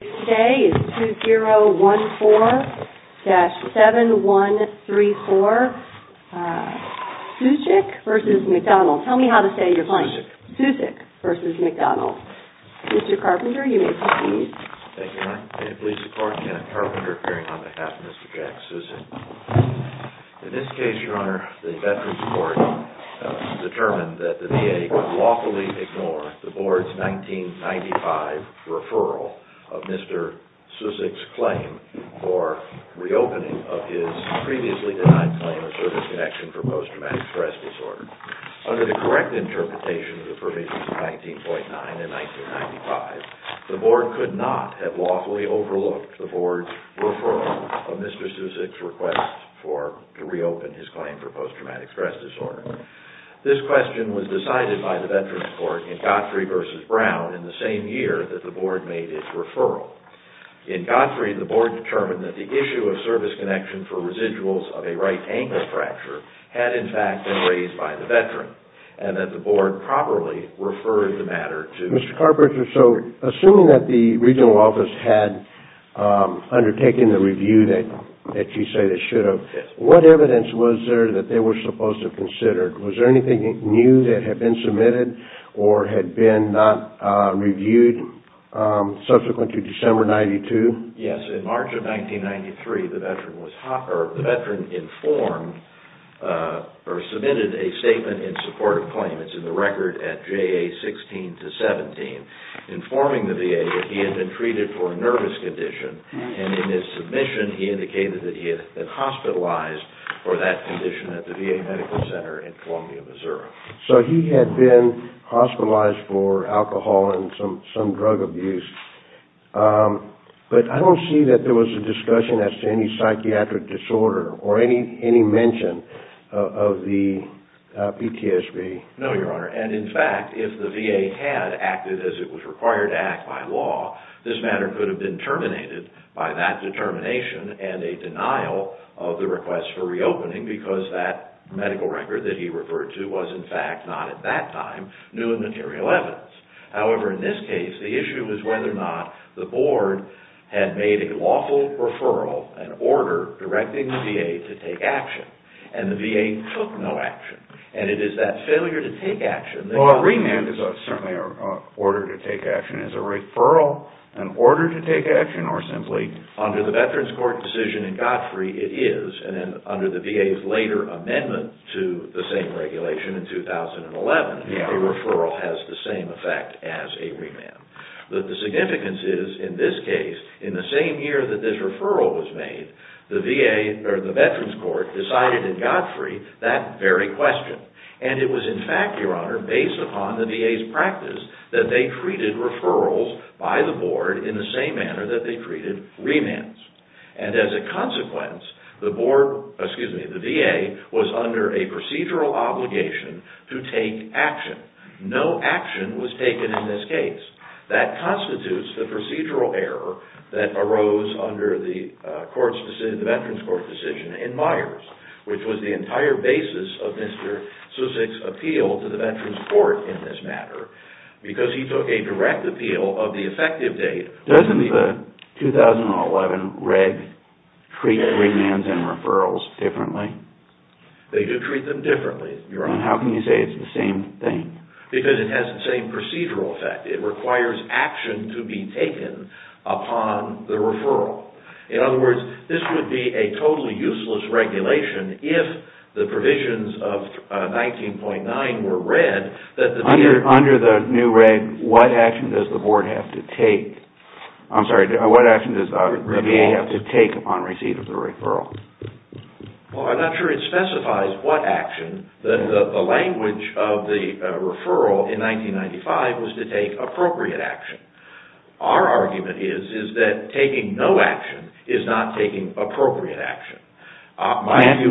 Today is 2014-7134. Sucic v. McDonald. Tell me how to say your name. Sucic. Sucic v. McDonald. Mr. Carpenter, you may proceed. Thank you, Your Honor. Can you please support Kenneth Carpenter appearing on behalf of Mr. Jack Sucic? In this case, Your Honor, the Veterans Court determined that the VA could lawfully ignore the Board's 1995 referral of Mr. Sucic's claim for reopening of his previously denied claim of service connection for post-traumatic stress disorder. Under the correct interpretation of the provisions of 19.9 and 1995, the Board could not have lawfully overlooked the Board's referral of Mr. Sucic's request to reopen his claim for post-traumatic stress disorder. This question was decided by the Veterans Court in Godfrey v. Brown in the same year that the Board made its referral. In Godfrey, the Board determined that the issue of service connection for residuals of a right ankle fracture had, in fact, been raised by the Veteran, and that the Board properly referred the matter to Mr. Carpenter. So, assuming that the regional office had undertaken the review that you say they should have, what evidence was there that they were supposed to consider? Was there anything new that had been submitted or had been not reviewed subsequent to December 92? Yes. In March of 1993, the Veteran informed or submitted a statement in support of claims in the record at JA 16 to 17, informing the VA that he had been treated for a nervous condition, and in his submission, he indicated that he had been hospitalized for that condition at the VA Medical Center in Columbia, Missouri. So, he had been hospitalized for alcohol and some drug abuse, but I don't see that there was a discussion as to any psychiatric disorder or any mention of the PTSD. No, Your Honor, and in fact, if the VA had acted as it was required to act by law, this matter could have been terminated by that determination and a denial of the request for reopening because that medical record that he referred to was, in fact, not at that time new and material evidence. However, in this case, the issue is whether or not the Board had made a lawful referral, an order, directing the VA to take action, and the VA took no action, and it is that failure to take action that... A remand is certainly an order to take action. Is a referral an order to take action or simply... Under the Veterans Court decision in Godfrey, it is, and under the VA's later amendment to the same regulation in 2011, a referral has the same effect as a remand. The significance is, in this case, in the same year that this referral was made, the Veterans Court decided in Godfrey that very question, and it was, in fact, Your Honor, based upon the VA's practice that they treated referrals by the Board in the same manner that they treated remands, and as a consequence, the VA was under a procedural obligation to take action. No action was taken in this case. That constitutes the procedural error that arose under the Veterans Court decision in this matter, because he took a direct appeal of the effective date... Doesn't the 2011 reg treat remands and referrals differently? They do treat them differently, Your Honor. How can you say it's the same thing? Because it has the same procedural effect. It requires action to be taken upon the referral. In other words, this would be a totally useless regulation if the provisions of 19.9 were read that the VA... Under the new reg, what action does the Board have to take? I'm sorry, what action does the VA have to take upon receipt of the referral? Well, I'm not sure it specifies what action. The language of the referral in 1995 was to take appropriate action. Our argument is that taking no action is not taking appropriate action. I ask you,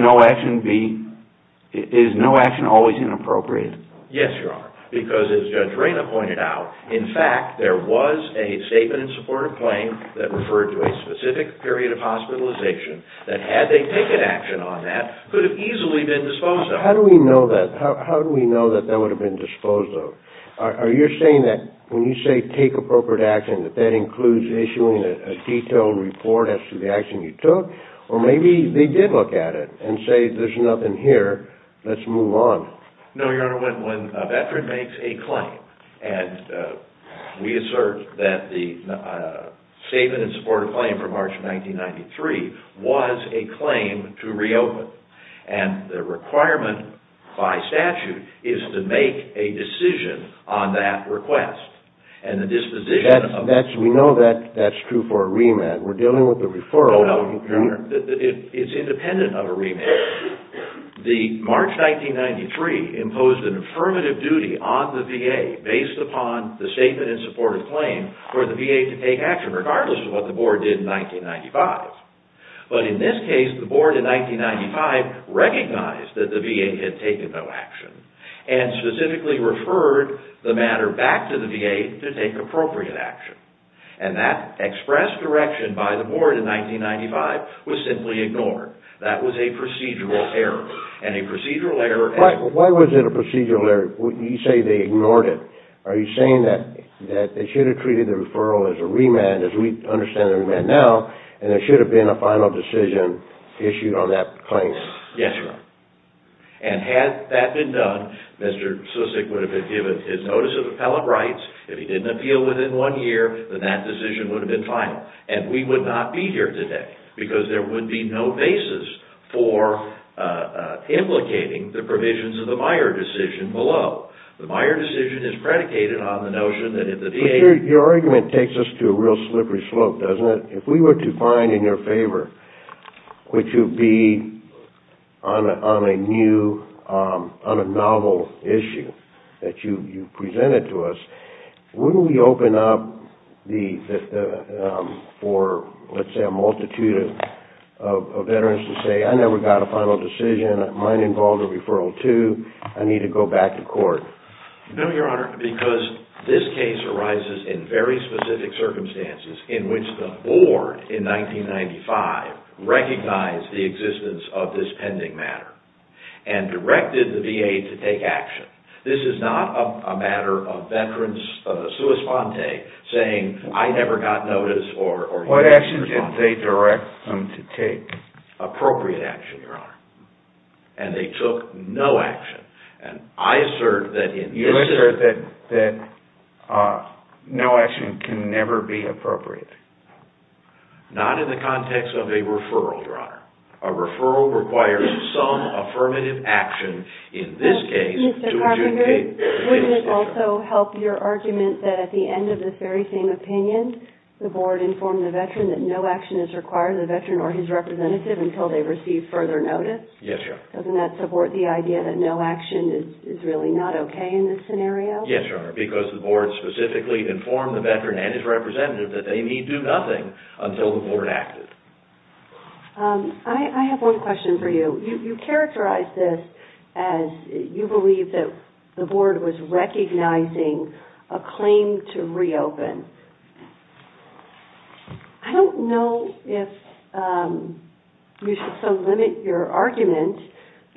is no action always inappropriate? Yes, Your Honor. Because as Judge Reyna pointed out, in fact, there was a statement in support of claim that referred to a specific period of hospitalization that had they taken action on that, could have easily been disposed of. How do we know that? How do we know that that would have been disposed of? Are you saying that when you say take appropriate action, that that includes issuing a detailed report as to the action you took? Or maybe they did look at it and say there's nothing here, let's move on. No, Your Honor. When a veteran makes a claim, and we assert that the statement in support of claim from March of 1993 was a claim to reopen, and the requirement by statute is to make a decision on that request, and the disposition of... We know that that's true for a remand. We're dealing with a referral. No, Your Honor. It's independent of a remand. The March 1993 imposed an affirmative duty on the VA based upon the statement in support of claim for the VA to take action, regardless of what the board did in 1995. But in this case, the board in 1995 recognized that the VA had taken no action, and specifically referred the matter back to the VA to take appropriate action. And that expressed direction by the board in 1995 was simply ignored. That was a procedural error, and a procedural error... Why was it a procedural error when you say they ignored it? Are you saying that they should have treated the referral as a remand, as we understand a remand now, and there should have been a final decision issued on that claim? Yes, Your Honor. And had that been done, Mr. Susick would have been given his notice of appellate rights. If he didn't appeal within one year, then that decision would have been final. And we would not be here today, because there would be no basis for implicating the provisions of the Meyer decision below. The Meyer decision is predicated on the notion that if the VA... But your argument takes us to a real slippery slope, doesn't it? If we were to find in your favor, which would be on a novel issue that you presented to us, wouldn't we open up for, let's say, a multitude of veterans to say, I never got a final decision. Mine involved a referral, too. I need to go back to court. No, Your Honor, because this case arises in very specific circumstances, in which the board in 1995 recognized the existence of this pending matter and directed the VA to take action. This is not a matter of veterans' sua sponte saying, I never got notice or... What action did they direct them to take? Appropriate action, Your Honor. And they took no action. I assert that no action can never be appropriate. Not in the context of a referral, Your Honor. A referral requires some affirmative action, in this case, to adjudicate... Mr. Carpenter, wouldn't it also help your argument that at the end of this very same opinion, the board informed the veteran that no action is required of the veteran or his representative until they receive further notice? Yes, Your Honor. Doesn't that support the idea that no action is really not okay in this scenario? Yes, Your Honor, because the board specifically informed the veteran and his representative that they need do nothing until the board acted. I have one question for you. You characterize this as you believe that the board was recognizing a claim to reopen. I don't know if you should so limit your argument.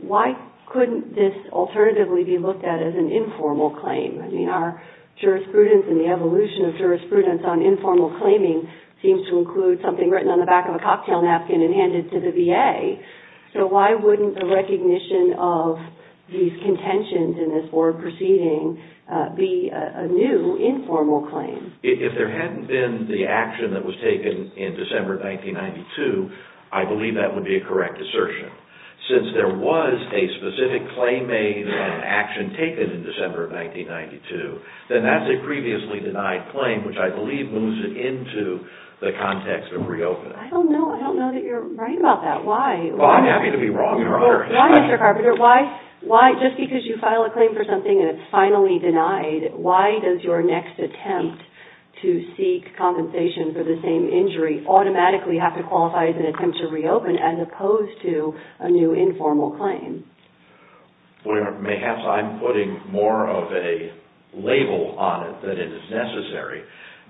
Why couldn't this alternatively be looked at as an informal claim? I mean, our jurisprudence and the evolution of jurisprudence on informal claiming seems to include something written on the back of a cocktail napkin and handed to the VA. So why wouldn't the recognition of these contentions in this board proceeding be a new informal claim? If there hadn't been the action that was taken in December of 1992, I believe that would be a correct assertion. Since there was a specific claim made and action taken in December of 1992, then that's a previously denied claim, which I believe moves it into the context of reopening. I don't know that you're right about that. Why? Well, I'm happy to be wrong, Your Honor. Why, Mr. Carpenter, why just because you file a claim for something and it's finally denied, why does your next attempt to seek compensation for the same injury automatically have to qualify as an attempt to reopen as opposed to a new informal claim? Well, Your Honor, perhaps I'm putting more of a label on it than is necessary.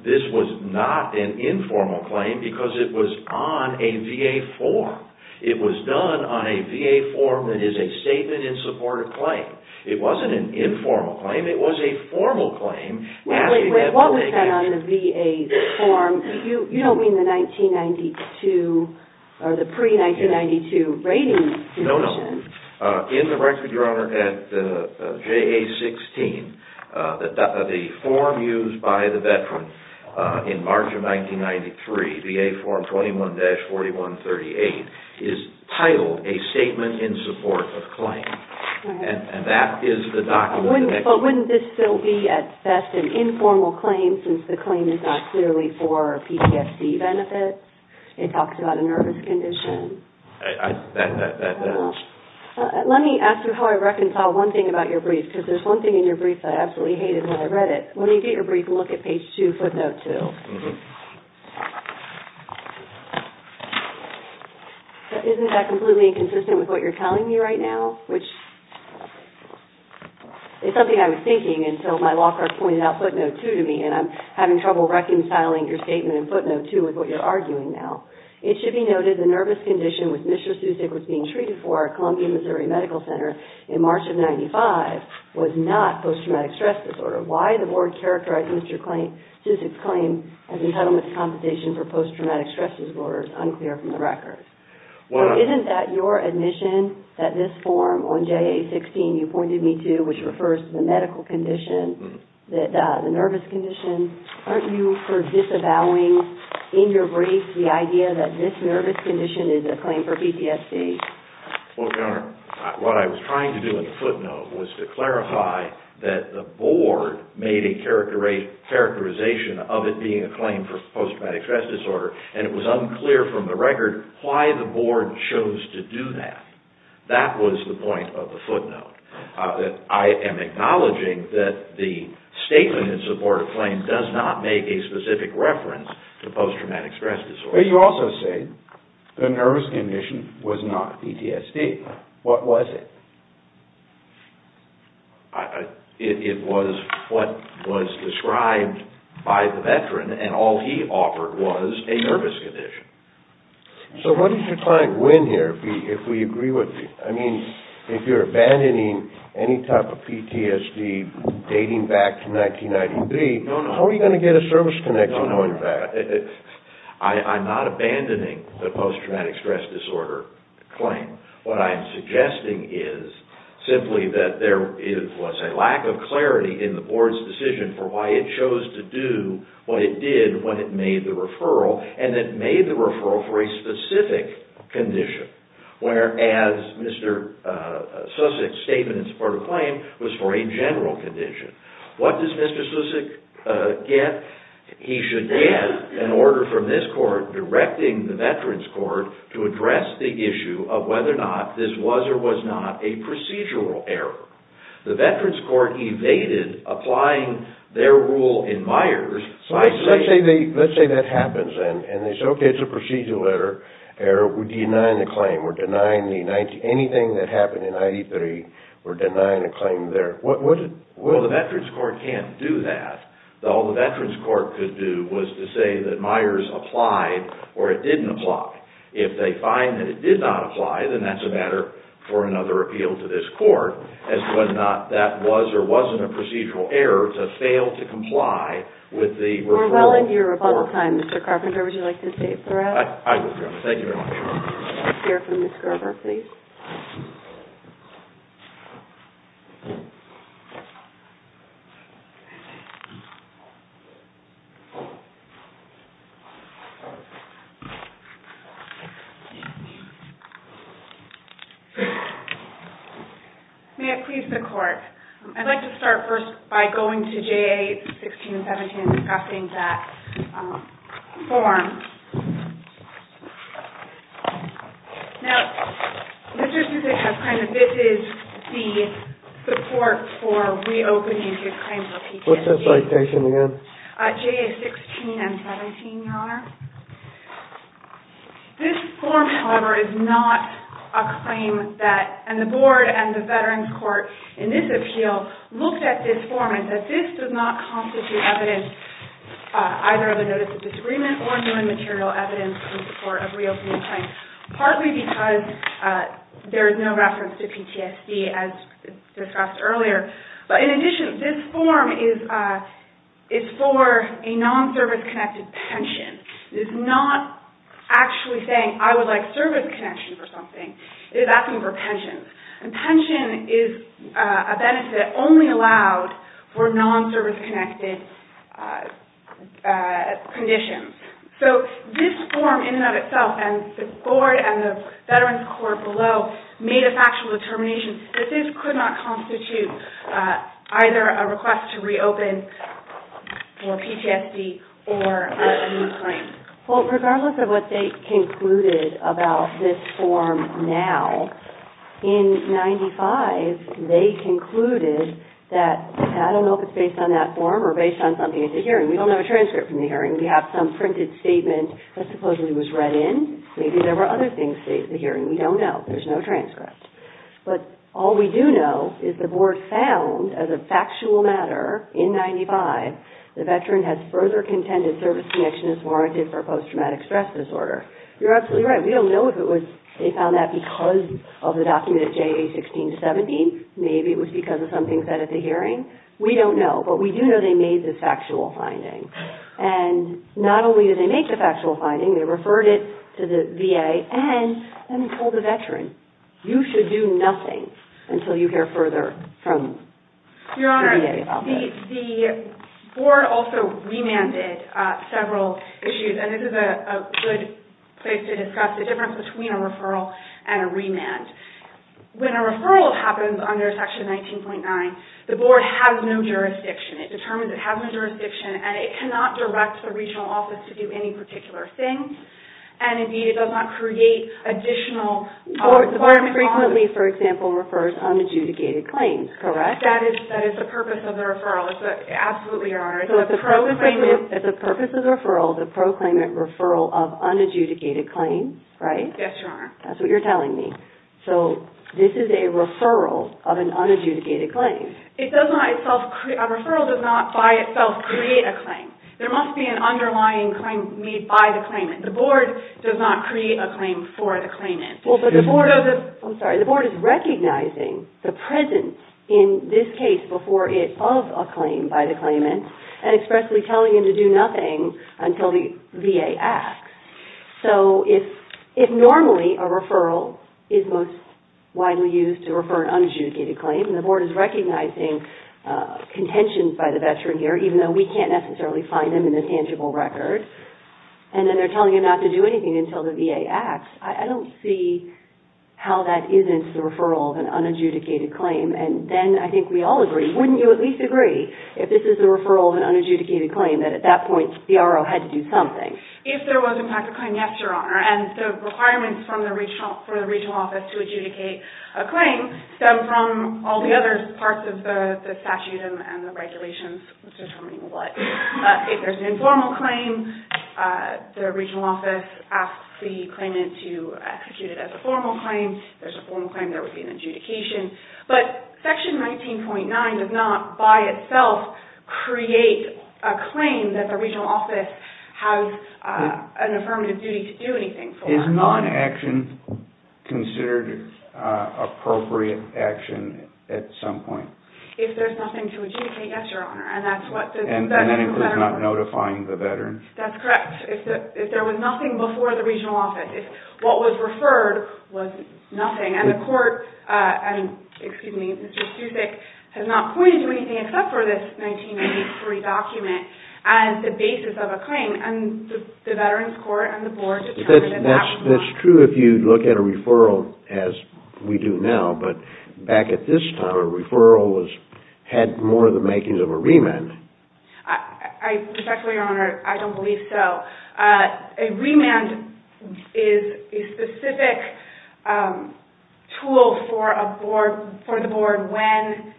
This was not an informal claim because it was on a VA form. It was done on a VA form that is a statement in support of claim. It wasn't an informal claim. It was a formal claim. Wait, wait, wait. What was that on the VA form? You don't mean the 1992 or the pre-1992 rating? No, no. In the record, Your Honor, at JA-16, the form used by the veteran in March of 1993, VA form 21-4138, is titled a statement in support of claim. And that is the document. But wouldn't this still be, at best, an informal claim since the claim is not clearly for PTSD benefits? It talks about a nervous condition. That does. Let me ask you how I reconcile one thing about your brief, because there's one thing in your brief that I absolutely hated when I read it. Let me get your brief and look at page 2, footnote 2. Isn't that completely inconsistent with what you're telling me right now? It's something I was thinking, and so my law clerk pointed out footnote 2 to me, and I'm having trouble reconciling your statement in footnote 2 with what you're arguing now. It should be noted the nervous condition with Mr. Susick was being treated for at Columbia-Missouri Medical Center in March of 1995 was not post-traumatic stress disorder. Why the board characterized Mr. Susick's claim as entitlement compensation for post-traumatic stress disorder is unclear from the record. Isn't that your admission that this form on JA-16 you pointed me to, which refers to the medical condition, the nervous condition? Aren't you disavowing, in your brief, the idea that this nervous condition is a claim for PTSD? Well, Your Honor, what I was trying to do in the footnote was to clarify that the board made a characterization of it being a claim for post-traumatic stress disorder, and it was unclear from the record why the board chose to do that. That was the point of the footnote. I am acknowledging that the statement in support of claim does not make a specific reference to post-traumatic stress disorder. But you also say the nervous condition was not PTSD. What was it? It was what was described by the veteran, and all he offered was a nervous condition. So what does your client win here, if we agree with you? I mean, if you're abandoning any type of PTSD dating back to 1993, how are you going to get a service connection going back? I'm not abandoning the post-traumatic stress disorder claim. What I'm suggesting is simply that there was a lack of clarity in the board's decision for why it chose to do what it did when it made the referral, and it made the referral for a specific condition, whereas Mr. Susick's statement in support of claim was for a general condition. What does Mr. Susick get? He should get an order from this court directing the veterans' court to address the issue of whether or not this was or was not a procedural error. The veterans' court evaded applying their rule in Myers. Let's say that happens, and they say, okay, it's a procedural error. We're denying the claim. We're denying anything that happened in 1993. We're denying a claim there. Well, the veterans' court can't do that. All the veterans' court could do was to say that Myers applied or it didn't apply. If they find that it did not apply, then that's a matter for another appeal to this court as to whether or not that was or wasn't a procedural error to fail to comply with the referral. We're well into your rebuttal time, Mr. Carpenter. Would you like to stay for that? I would. Thank you very much. We'll hear from Ms. Gerber, please. May it please the court, I'd like to start first by going to J.A. 1617 and discussing that form. Now, Mr. Susan has claimed that this is the support for reopening his claims of PTSD. What's the citation again? J.A. 1617, Your Honor. This form, however, is not a claim that, and the board and the veterans' court in this appeal looked at this form and said this does not constitute evidence either of a notice of disagreement or human material evidence in support of reopening claims, partly because there is no reference to PTSD as discussed earlier. In addition, this form is for a non-service-connected pension. It is not actually saying, I would like service connection for something. It is asking for pensions. And pension is a benefit only allowed for non-service-connected conditions. So this form, in and of itself, and the board and the veterans' court below made a factual determination that this could not constitute either a request to reopen for PTSD or a new claim. Well, regardless of what they concluded about this form now, in 95, they concluded that, I don't know if it's based on that form or based on something in the hearing. We don't have a transcript from the hearing. We have some printed statement that supposedly was read in. Maybe there were other things stated in the hearing. We don't know. There's no transcript. But all we do know is the board found, as a factual matter, in 95, the veteran has further contended service connection is warranted for post-traumatic stress disorder. You're absolutely right. We don't know if they found that because of the document of JA-16-17. Maybe it was because of something said at the hearing. We don't know. But we do know they made this factual finding. And not only did they make the factual finding, they referred it to the VA, and then they told the veteran, you should do nothing until you hear further from the VA about this. The board also remanded several issues, and this is a good place to discuss the difference between a referral and a remand. When a referral happens under Section 19.9, the board has no jurisdiction. It determines it has no jurisdiction, and it cannot direct the regional office to do any particular thing, and, indeed, it does not create additional requirements. The board frequently, for example, refers unadjudicated claims, correct? Yes, that is the purpose of the referral. Absolutely, Your Honor. It's the purpose of the referral, the proclaimant referral of unadjudicated claims, right? Yes, Your Honor. That's what you're telling me. So this is a referral of an unadjudicated claim. A referral does not, by itself, create a claim. There must be an underlying need by the claimant. The board does not create a claim for the claimant. I'm sorry. The board is recognizing the presence in this case before it of a claim by the claimant and expressly telling him to do nothing until the VA acts. So if normally a referral is most widely used to refer an unadjudicated claim, and the board is recognizing contentions by the veteran here, even though we can't necessarily find them in the tangible record, and then they're telling him not to do anything until the VA acts, I don't see how that isn't the referral of an unadjudicated claim. And then I think we all agree. Wouldn't you at least agree, if this is a referral of an unadjudicated claim, that at that point the RO had to do something? If there was, in fact, a claim, yes, Your Honor. And the requirements for the regional office to adjudicate a claim stem from all the other parts of the statute and the regulations determining what. If there's an informal claim, the regional office asks the claimant to execute it as a formal claim. If there's a formal claim, there would be an adjudication. But Section 19.9 does not by itself create a claim that the regional office has an affirmative duty to do anything. Is non-action considered appropriate action at some point? If there's nothing to adjudicate, yes, Your Honor. And that includes not notifying the veterans? That's correct. If there was nothing before the regional office. If what was referred was nothing. And the court, excuse me, Mr. Susick, has not pointed to anything except for this 1993 document as the basis of a claim. And the veterans court and the board determined that that was not. That's true if you look at a referral as we do now. But back at this time, a referral had more of the makings of a remand. I respectfully, Your Honor, I don't believe so. A remand is a specific tool for the board when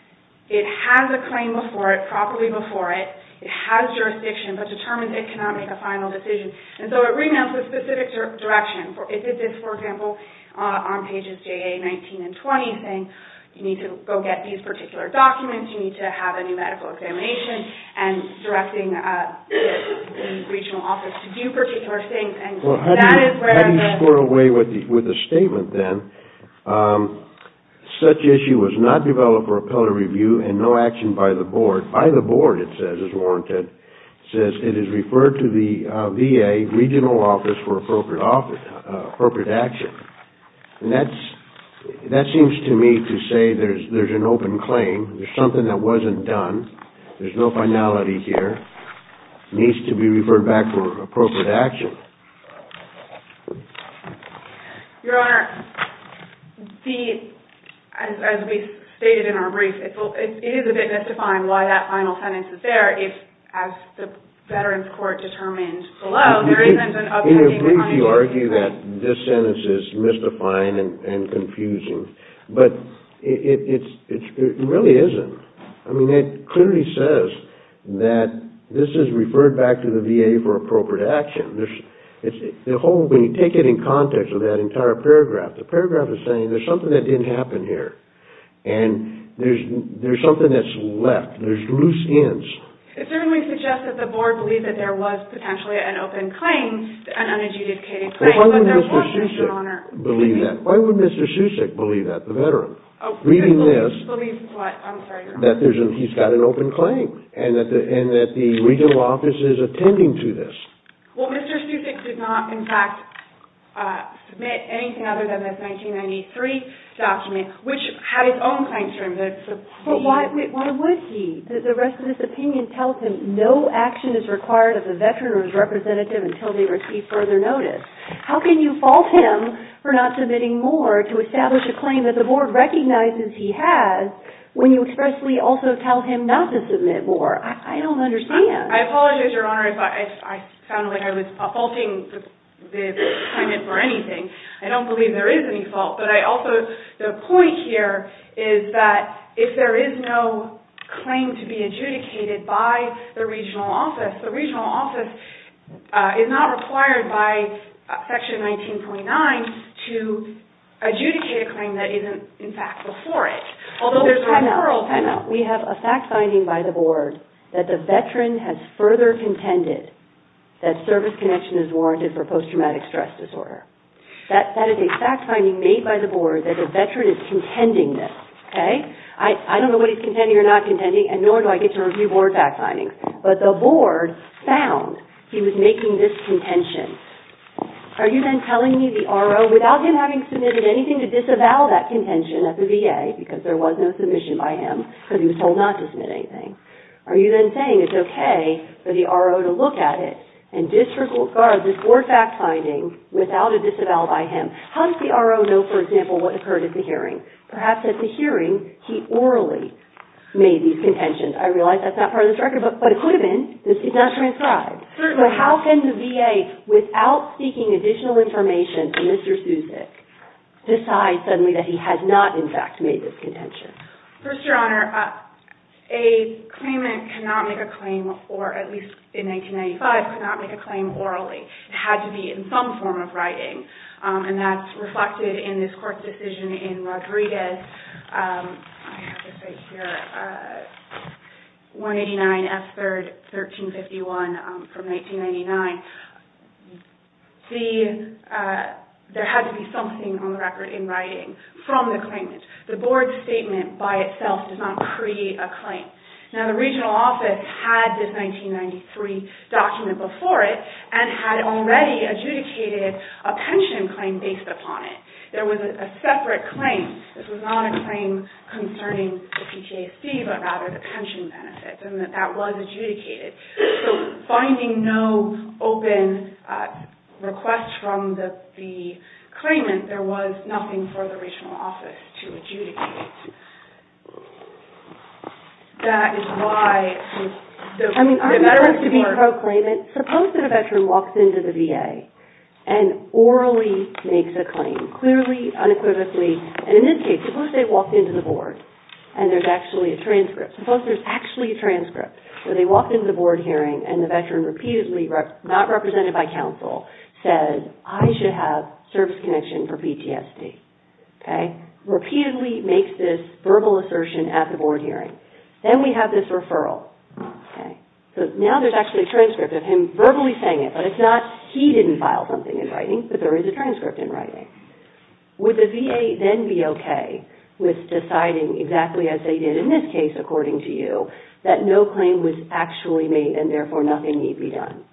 it has a claim before it, properly before it. It has jurisdiction, but determines it cannot make a final decision. And so a remand is a specific direction. If it is, for example, on pages JA 19 and 20, saying you need to go get these particular documents, you need to have a new medical examination, and directing the regional office to do particular things. How do you squirrel away with a statement then? Such issue was not developed for appellate review and no action by the board. By the board, it says, is warranted. It says it is referred to the VA regional office for appropriate action. And that seems to me to say there's an open claim. There's something that wasn't done. There's no finality here. It needs to be referred back for appropriate action. Your Honor, as we stated in our brief, it is a bit mystifying why that final sentence is there if, as the Veterans Court determined below, there isn't an open claim. In a brief, you argue that this sentence is mystifying and confusing. But it really isn't. I mean, it clearly says that this is referred back to the VA for appropriate action. When you take it in context of that entire paragraph, the paragraph is saying there's something that didn't happen here. And there's something that's left. There's loose ends. It certainly suggests that the board believed that there was potentially an open claim, an unadjudicated claim. But why would Mr. Susick believe that? Why would Mr. Susick believe that, the veteran, reading this? Believe what? I'm sorry, Your Honor. That he's got an open claim and that the regional office is attending to this. Well, Mr. Susick did not, in fact, submit anything other than this 1993 document, which had its own claim to him. But why would he? The rest of this opinion tells him no action is required of the veteran or his representative until they receive further notice. How can you fault him for not submitting more to establish a claim that the board recognizes he has when you expressly also tell him not to submit more? I don't understand. I apologize, Your Honor, if I sound like I was faulting the claimant for anything. I don't believe there is any fault. The point here is that if there is no claim to be adjudicated by the regional office, the regional office is not required by Section 1929 to adjudicate a claim that isn't, in fact, before it. Although there's a referral timeout. We have a fact finding by the board that the veteran has further contended that service connection is warranted for post-traumatic stress disorder. That is a fact finding made by the board that a veteran is contending this. Okay? I don't know what he's contending or not contending, and nor do I get to review board fact findings. But the board found he was making this contention. Are you then telling me the RO, without him having submitted anything to disavow that contention at the VA, because there was no submission by him because he was told not to submit anything, are you then saying it's okay for the RO to look at it and disregard this board fact finding without a disavowal by him? How does the RO know, for example, what occurred at the hearing? Perhaps at the hearing, he orally made these contentions. I realize that's not part of this record, but it could have been because he's not transcribed. But how can the VA, without seeking additional information from Mr. Susick, decide suddenly that he has not, in fact, made this contention? First, Your Honor, a claimant cannot make a claim, or at least in 1995, could not make a claim orally. It had to be in some form of writing, and that's reflected in this court's decision in Rodriguez. I have this right here, 189 S. 3rd, 1351, from 1999. See, there had to be something on the record in writing from the claimant. The board's statement by itself does not create a claim. Now, the regional office had this 1993 document before it and had already adjudicated a pension claim based upon it. There was a separate claim. This was not a claim concerning the PTAC, but rather the pension benefits, and that that was adjudicated. So finding no open request from the claimant, there was nothing for the regional office to adjudicate. I mean, our desire is to be pro-claimant. Suppose that a veteran walks into the VA and orally makes a claim, clearly, unequivocally, and in this case, suppose they walked into the board and there's actually a transcript. Suppose there's actually a transcript where they walked into the board hearing and the veteran repeatedly, not represented by counsel, says, I should have service connection for PTSD, okay? Repeatedly makes this verbal assertion at the board hearing. Then we have this referral, okay? So now there's actually a transcript of him verbally saying it, but it's not he didn't file something in writing, but there is a transcript in writing. Would the VA then be okay with deciding exactly as they did in this case, according to you, that no claim was actually made and therefore nothing need be done?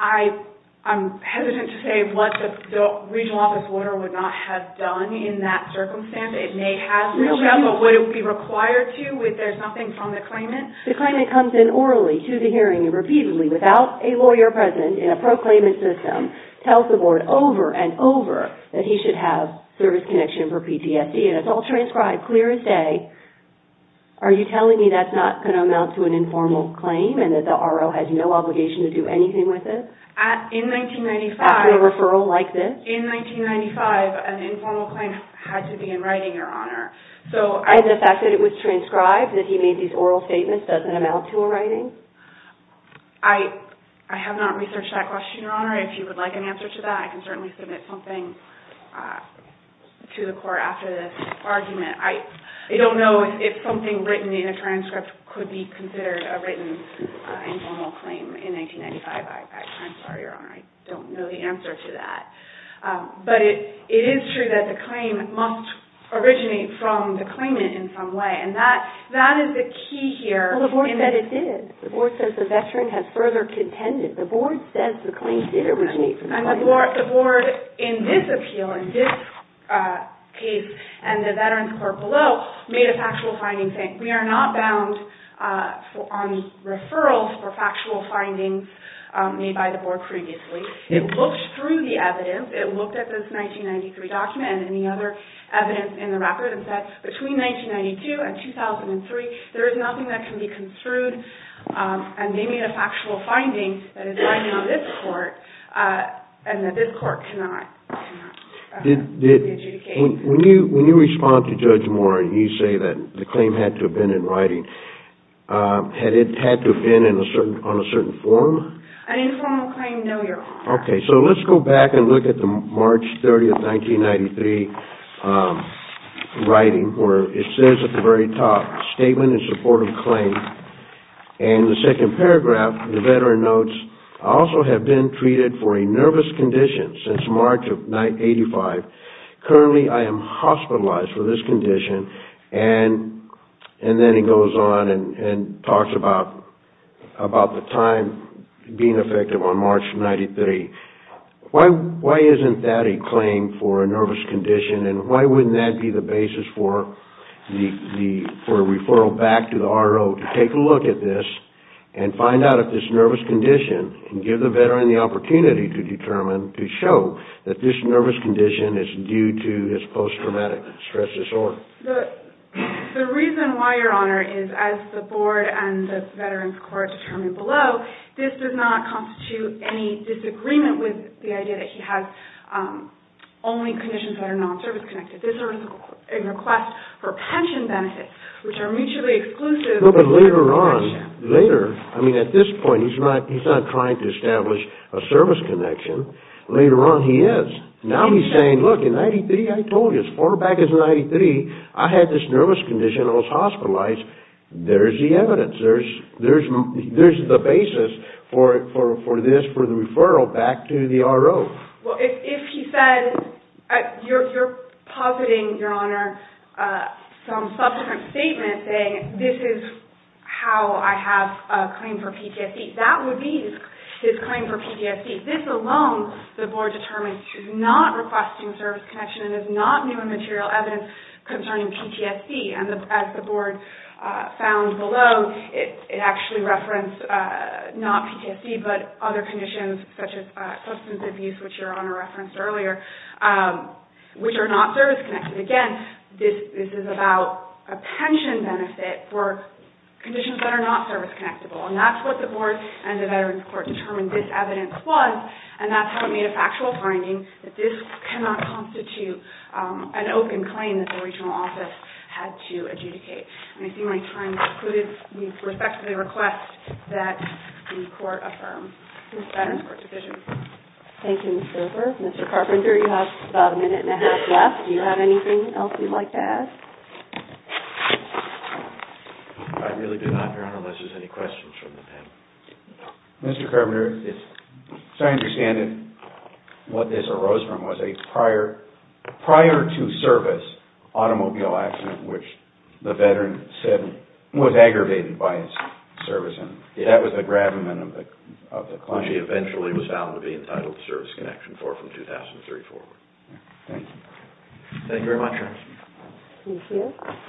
I'm hesitant to say what the regional office lawyer would not have done in that circumstance. It may have reached out, but would it be required to if there's nothing from the claimant? The claimant comes in orally to the hearing and repeatedly, without a lawyer present in a pro-claimant system, tells the board over and over that he should have service connection for PTSD and it's all transcribed clear as day. Are you telling me that's not the case? That it's not going to amount to an informal claim and that the RO has no obligation to do anything with it? In 1995, an informal claim had to be in writing, Your Honor. And the fact that it was transcribed, that he made these oral statements, doesn't amount to a writing? I have not researched that question, Your Honor. If you would like an answer to that, I can certainly submit something to the court after this argument. I don't know if something written in a transcript could be considered a written informal claim in 1995. I'm sorry, Your Honor. I don't know the answer to that. But it is true that the claim must originate from the claimant in some way. And that is the key here. Well, the board said it did. The board says the veteran has further contended. The board says the claim did originate from the claimant. And the board in this appeal, in this case, and the veterans court below made a factual finding saying we are not bound on referrals for factual findings made by the board previously. It looked through the evidence. It looked at this 1993 document and any other evidence in the record and said between 1992 and 2003, there is nothing that can be construed. And they made a factual finding that is binding on this court and that this court cannot adjudicate. When you respond to Judge Moore and you say that the claim had to have been in writing, had it had to have been on a certain form? An informal claim, no, Your Honor. Okay, so let's go back and look at the March 30, 1993 writing where it says at the very top, Statement in Support of Claim. And the second paragraph, the veteran notes, I also have been treated for a nervous condition since March of 1985. Currently, I am hospitalized for this condition. And then he goes on and talks about the time being effective on March of 1993. Why isn't that a claim for a nervous condition and why wouldn't that be the basis for a referral back to the RO to take a look at this and find out if this nervous condition and give the veteran the opportunity to determine, to show that this nervous condition is due to his post-traumatic stress disorder? The reason why, Your Honor, is as the board and the Veterans Court determined below, this does not constitute any disagreement with the idea that he has only conditions that are non-service connected. This is a request for pension benefits, which are mutually exclusive. No, but later on, later, I mean at this point, he's not trying to establish a service connection. Later on, he is. Now he's saying, look, in 1993, I told you, as far back as 1993, I had this nervous condition and I was hospitalized. There's the evidence. There's the basis for this, for the referral back to the RO. Well, if he said, you're positing, Your Honor, some subsequent statement saying, this is how I have a claim for PTSD. That would be his claim for PTSD. This alone, the board determines, is not requesting service connection and is not new and material evidence concerning PTSD. And as the board found below, it actually referenced not PTSD, but other conditions such as substance abuse, which Your Honor referenced earlier, which are not service connected. Again, this is about a pension benefit for conditions that are not service connectable. And that's what the board and the Veterans Court determined this evidence was, and that's how it made a factual finding that this cannot constitute an open claim that the regional office had to adjudicate. And I see my time has concluded. We respectfully request that the court affirm. Ms. Staten, Court Division. Thank you, Ms. Grover. Mr. Carpenter, you have about a minute and a half left. Do you have anything else you'd like to add? I really do not, Your Honor, unless there's any questions from the panel. Mr. Carpenter, as I understand it, what this arose from was a prior-to-service automobile accident which the veteran said was aggravated by his service. And that was the gravamen of the claim. Which he eventually was found to be entitled to service connection for from 2003 forward. Thank you. Thank you very much, Your Honor. Thank you.